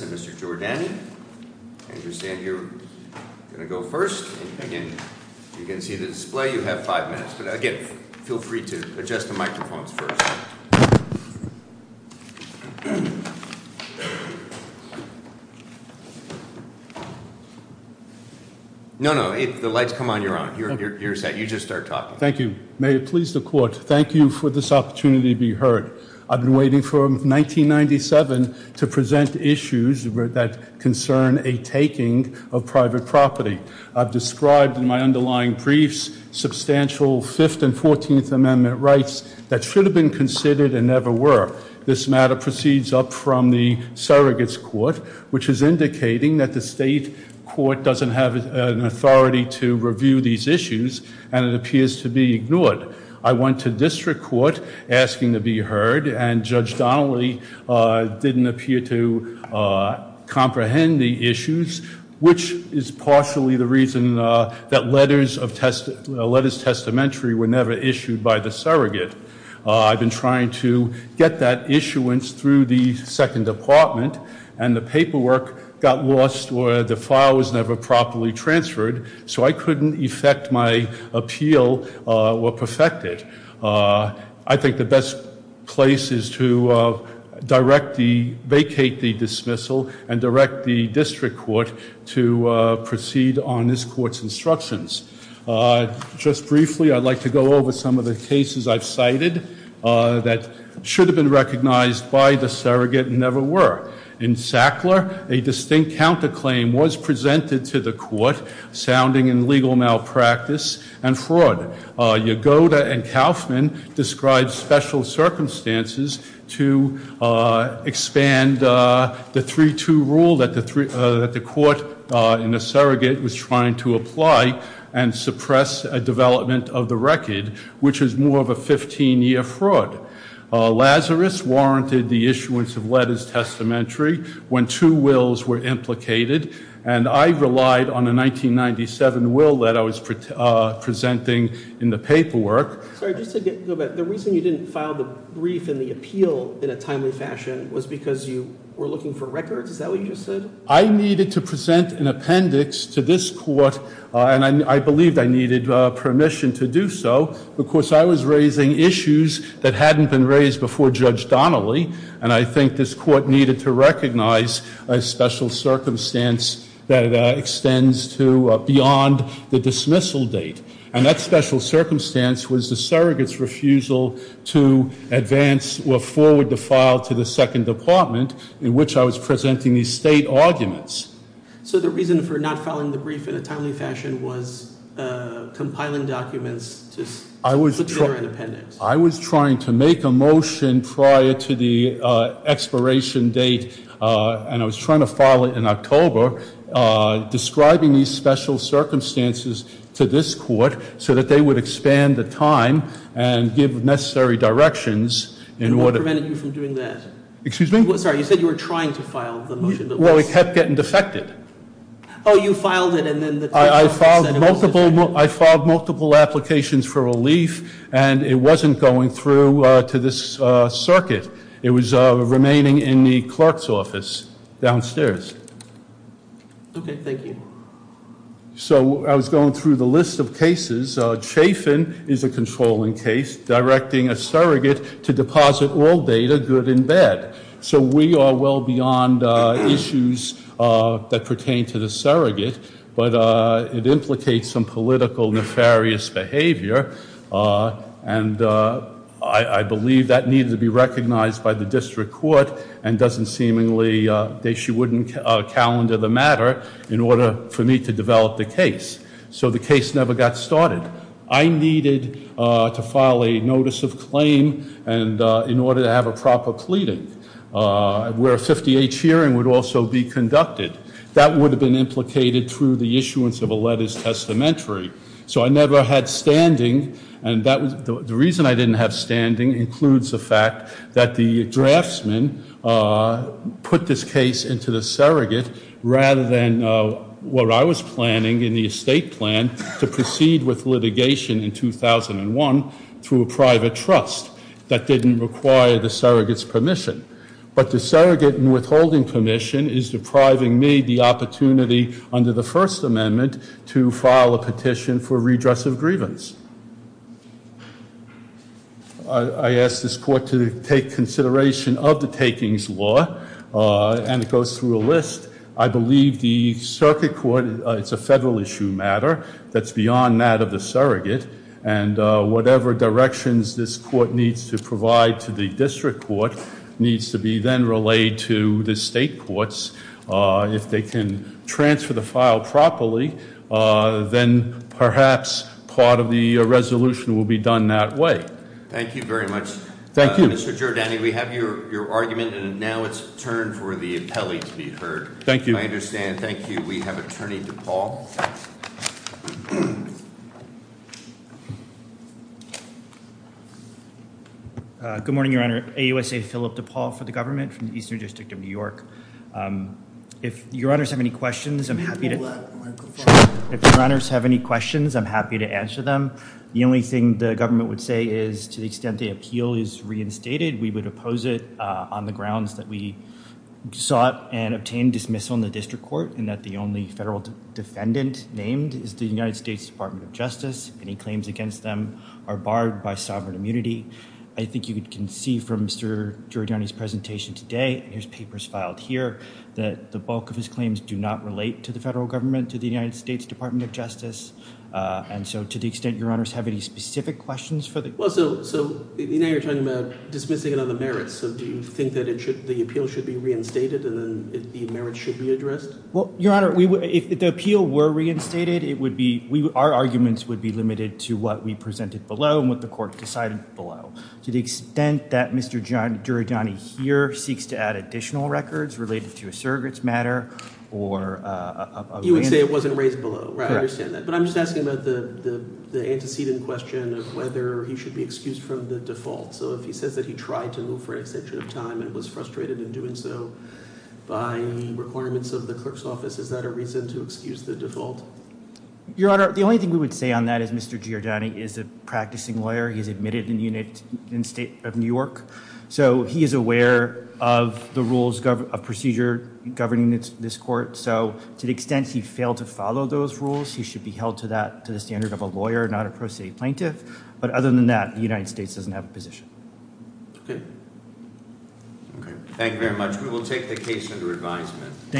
and Mr. Giordani. I understand you're going to go first. Again, if you can see the display, you have five minutes. But again, feel free to adjust the microphones first. No, no, the lights come on, you're on. You're set. You just start talking. Thank you. May it please the Court, thank you for this opportunity to be heard. I've been waiting for 1997 to present issues that concern a taking of private property. I've described in my underlying briefs substantial Fifth and Fourteenth Amendment rights that should have been considered and never were. This matter proceeds up from the surrogates court, which is indicating that the state court doesn't have an authority to review these issues and it appears to be ignored. I went to district court asking to be heard and Judge Donnelly didn't appear to comprehend the issues, which is partially the reason that letters of testamentary were never issued by the surrogate. I've been trying to get that issuance through the Second Department and the paperwork got lost or the file was never properly transferred, so I couldn't effect my appeal or perfect it. I think the best place is to vacate the dismissal and direct the district court to proceed on this court's instructions. Just briefly, I'd like to go over some of the cases I've cited that should have been recognized by the surrogate and never were. In Sackler, a distinct counterclaim was presented to the court, sounding in legal malpractice and fraud. Yagoda and Kaufman described special circumstances to expand the 3-2 rule that the court in the surrogate was trying to apply and suppress a development of the record, which is more of a 15-year fraud. Lazarus warranted the issuance of letters of testamentary when two wills were implicated and I relied on a 1997 will that I was presenting in the paperwork. I needed to present an appendix to this court and I believed I needed permission to do so because I was raising issues that hadn't been raised before Judge Donnelly and I think this is a special circumstance that extends to beyond the dismissal date and that special circumstance was the surrogate's refusal to advance or forward the file to the second department in which I was presenting these state arguments. So the reason for not filing the brief in a timely fashion was compiling documents to put together an appendix? I was trying to make a motion prior to the expiration date and I was trying to file it in October, describing these special circumstances to this court so that they would expand the time and give necessary directions. And what prevented you from doing that? Excuse me? Sorry, you said you were trying to file the motion. Well, it kept getting defected. Oh, you filed it and then the to this circuit. It was remaining in the clerk's office downstairs. Okay, thank you. So I was going through the list of cases. Chafin is a controlling case directing a surrogate to deposit all data good and bad. So we are well beyond issues that pertain to the surrogate but it implicates some political nefarious behavior and I believe that needed to be recognized by the district court and doesn't seemingly, she wouldn't calendar the matter in order for me to develop the case. So the case never got started. I needed to file a notice of claim and in order to have a proper pleading where a 58 hearing would also be conducted. That would have been implicated through the issuance of a letter's testamentary. So I never had standing and that was the reason I didn't have standing includes the fact that the draftsman put this case into the surrogate rather than what I was planning in the estate plan to proceed with litigation in 2001 through a private trust that didn't require the surrogate's permission is depriving me the opportunity under the first amendment to file a petition for redress of grievance. I asked this court to take consideration of the takings law and it goes through a list. I believe the circuit court, it's a federal issue matter that's beyond that of the surrogate and whatever directions this court needs to provide to the district court needs to be then relayed to the state courts. If they can transfer the file properly then perhaps part of the resolution will be done that way. Thank you very much. Thank you. Mr. Giordani, we have your argument and now it's turn for the appellee to be heard. Thank you. I understand. I'm Paul for the government from the eastern district of New York. If your honors have any questions I'm happy to if your honors have any questions I'm happy to answer them. The only thing the government would say is to the extent the appeal is reinstated we would oppose it on the grounds that we sought and obtained dismissal in the district court and that the only federal defendant named is the United States Department of Justice. Any claims against them are barred by sovereign I think you can see from Mr. Giordani's presentation today and his papers filed here that the bulk of his claims do not relate to the federal government to the United States Department of Justice and so to the extent your honors have any specific questions for them. Well so so now you're talking about dismissing it on the merits so do you think that it should the appeal should be reinstated and then the merits should be addressed? Well your honor we would if the appeal were reinstated it would be we our arguments would be limited to what we presented below and what the court decided below to the extent that Mr. Giordani here seeks to add additional records related to a surrogates matter or uh you would say it wasn't raised below right I understand that but I'm just asking about the the antecedent question of whether he should be excused from the default so if he says that he tried to move for an extension of time and was frustrated in doing so by requirements of the clerk's office is that a reason to excuse the default? Your honor the only thing we would say on that is Mr. Giordani is a practicing lawyer he's admitted in the United in the state of New York so he is aware of the rules of procedure governing this court so to the extent he failed to follow those rules he should be held to that to the standard of a lawyer not a pro se plaintiff but other than that the United States doesn't have a position. Okay okay thank you very much we will take the case under advisement.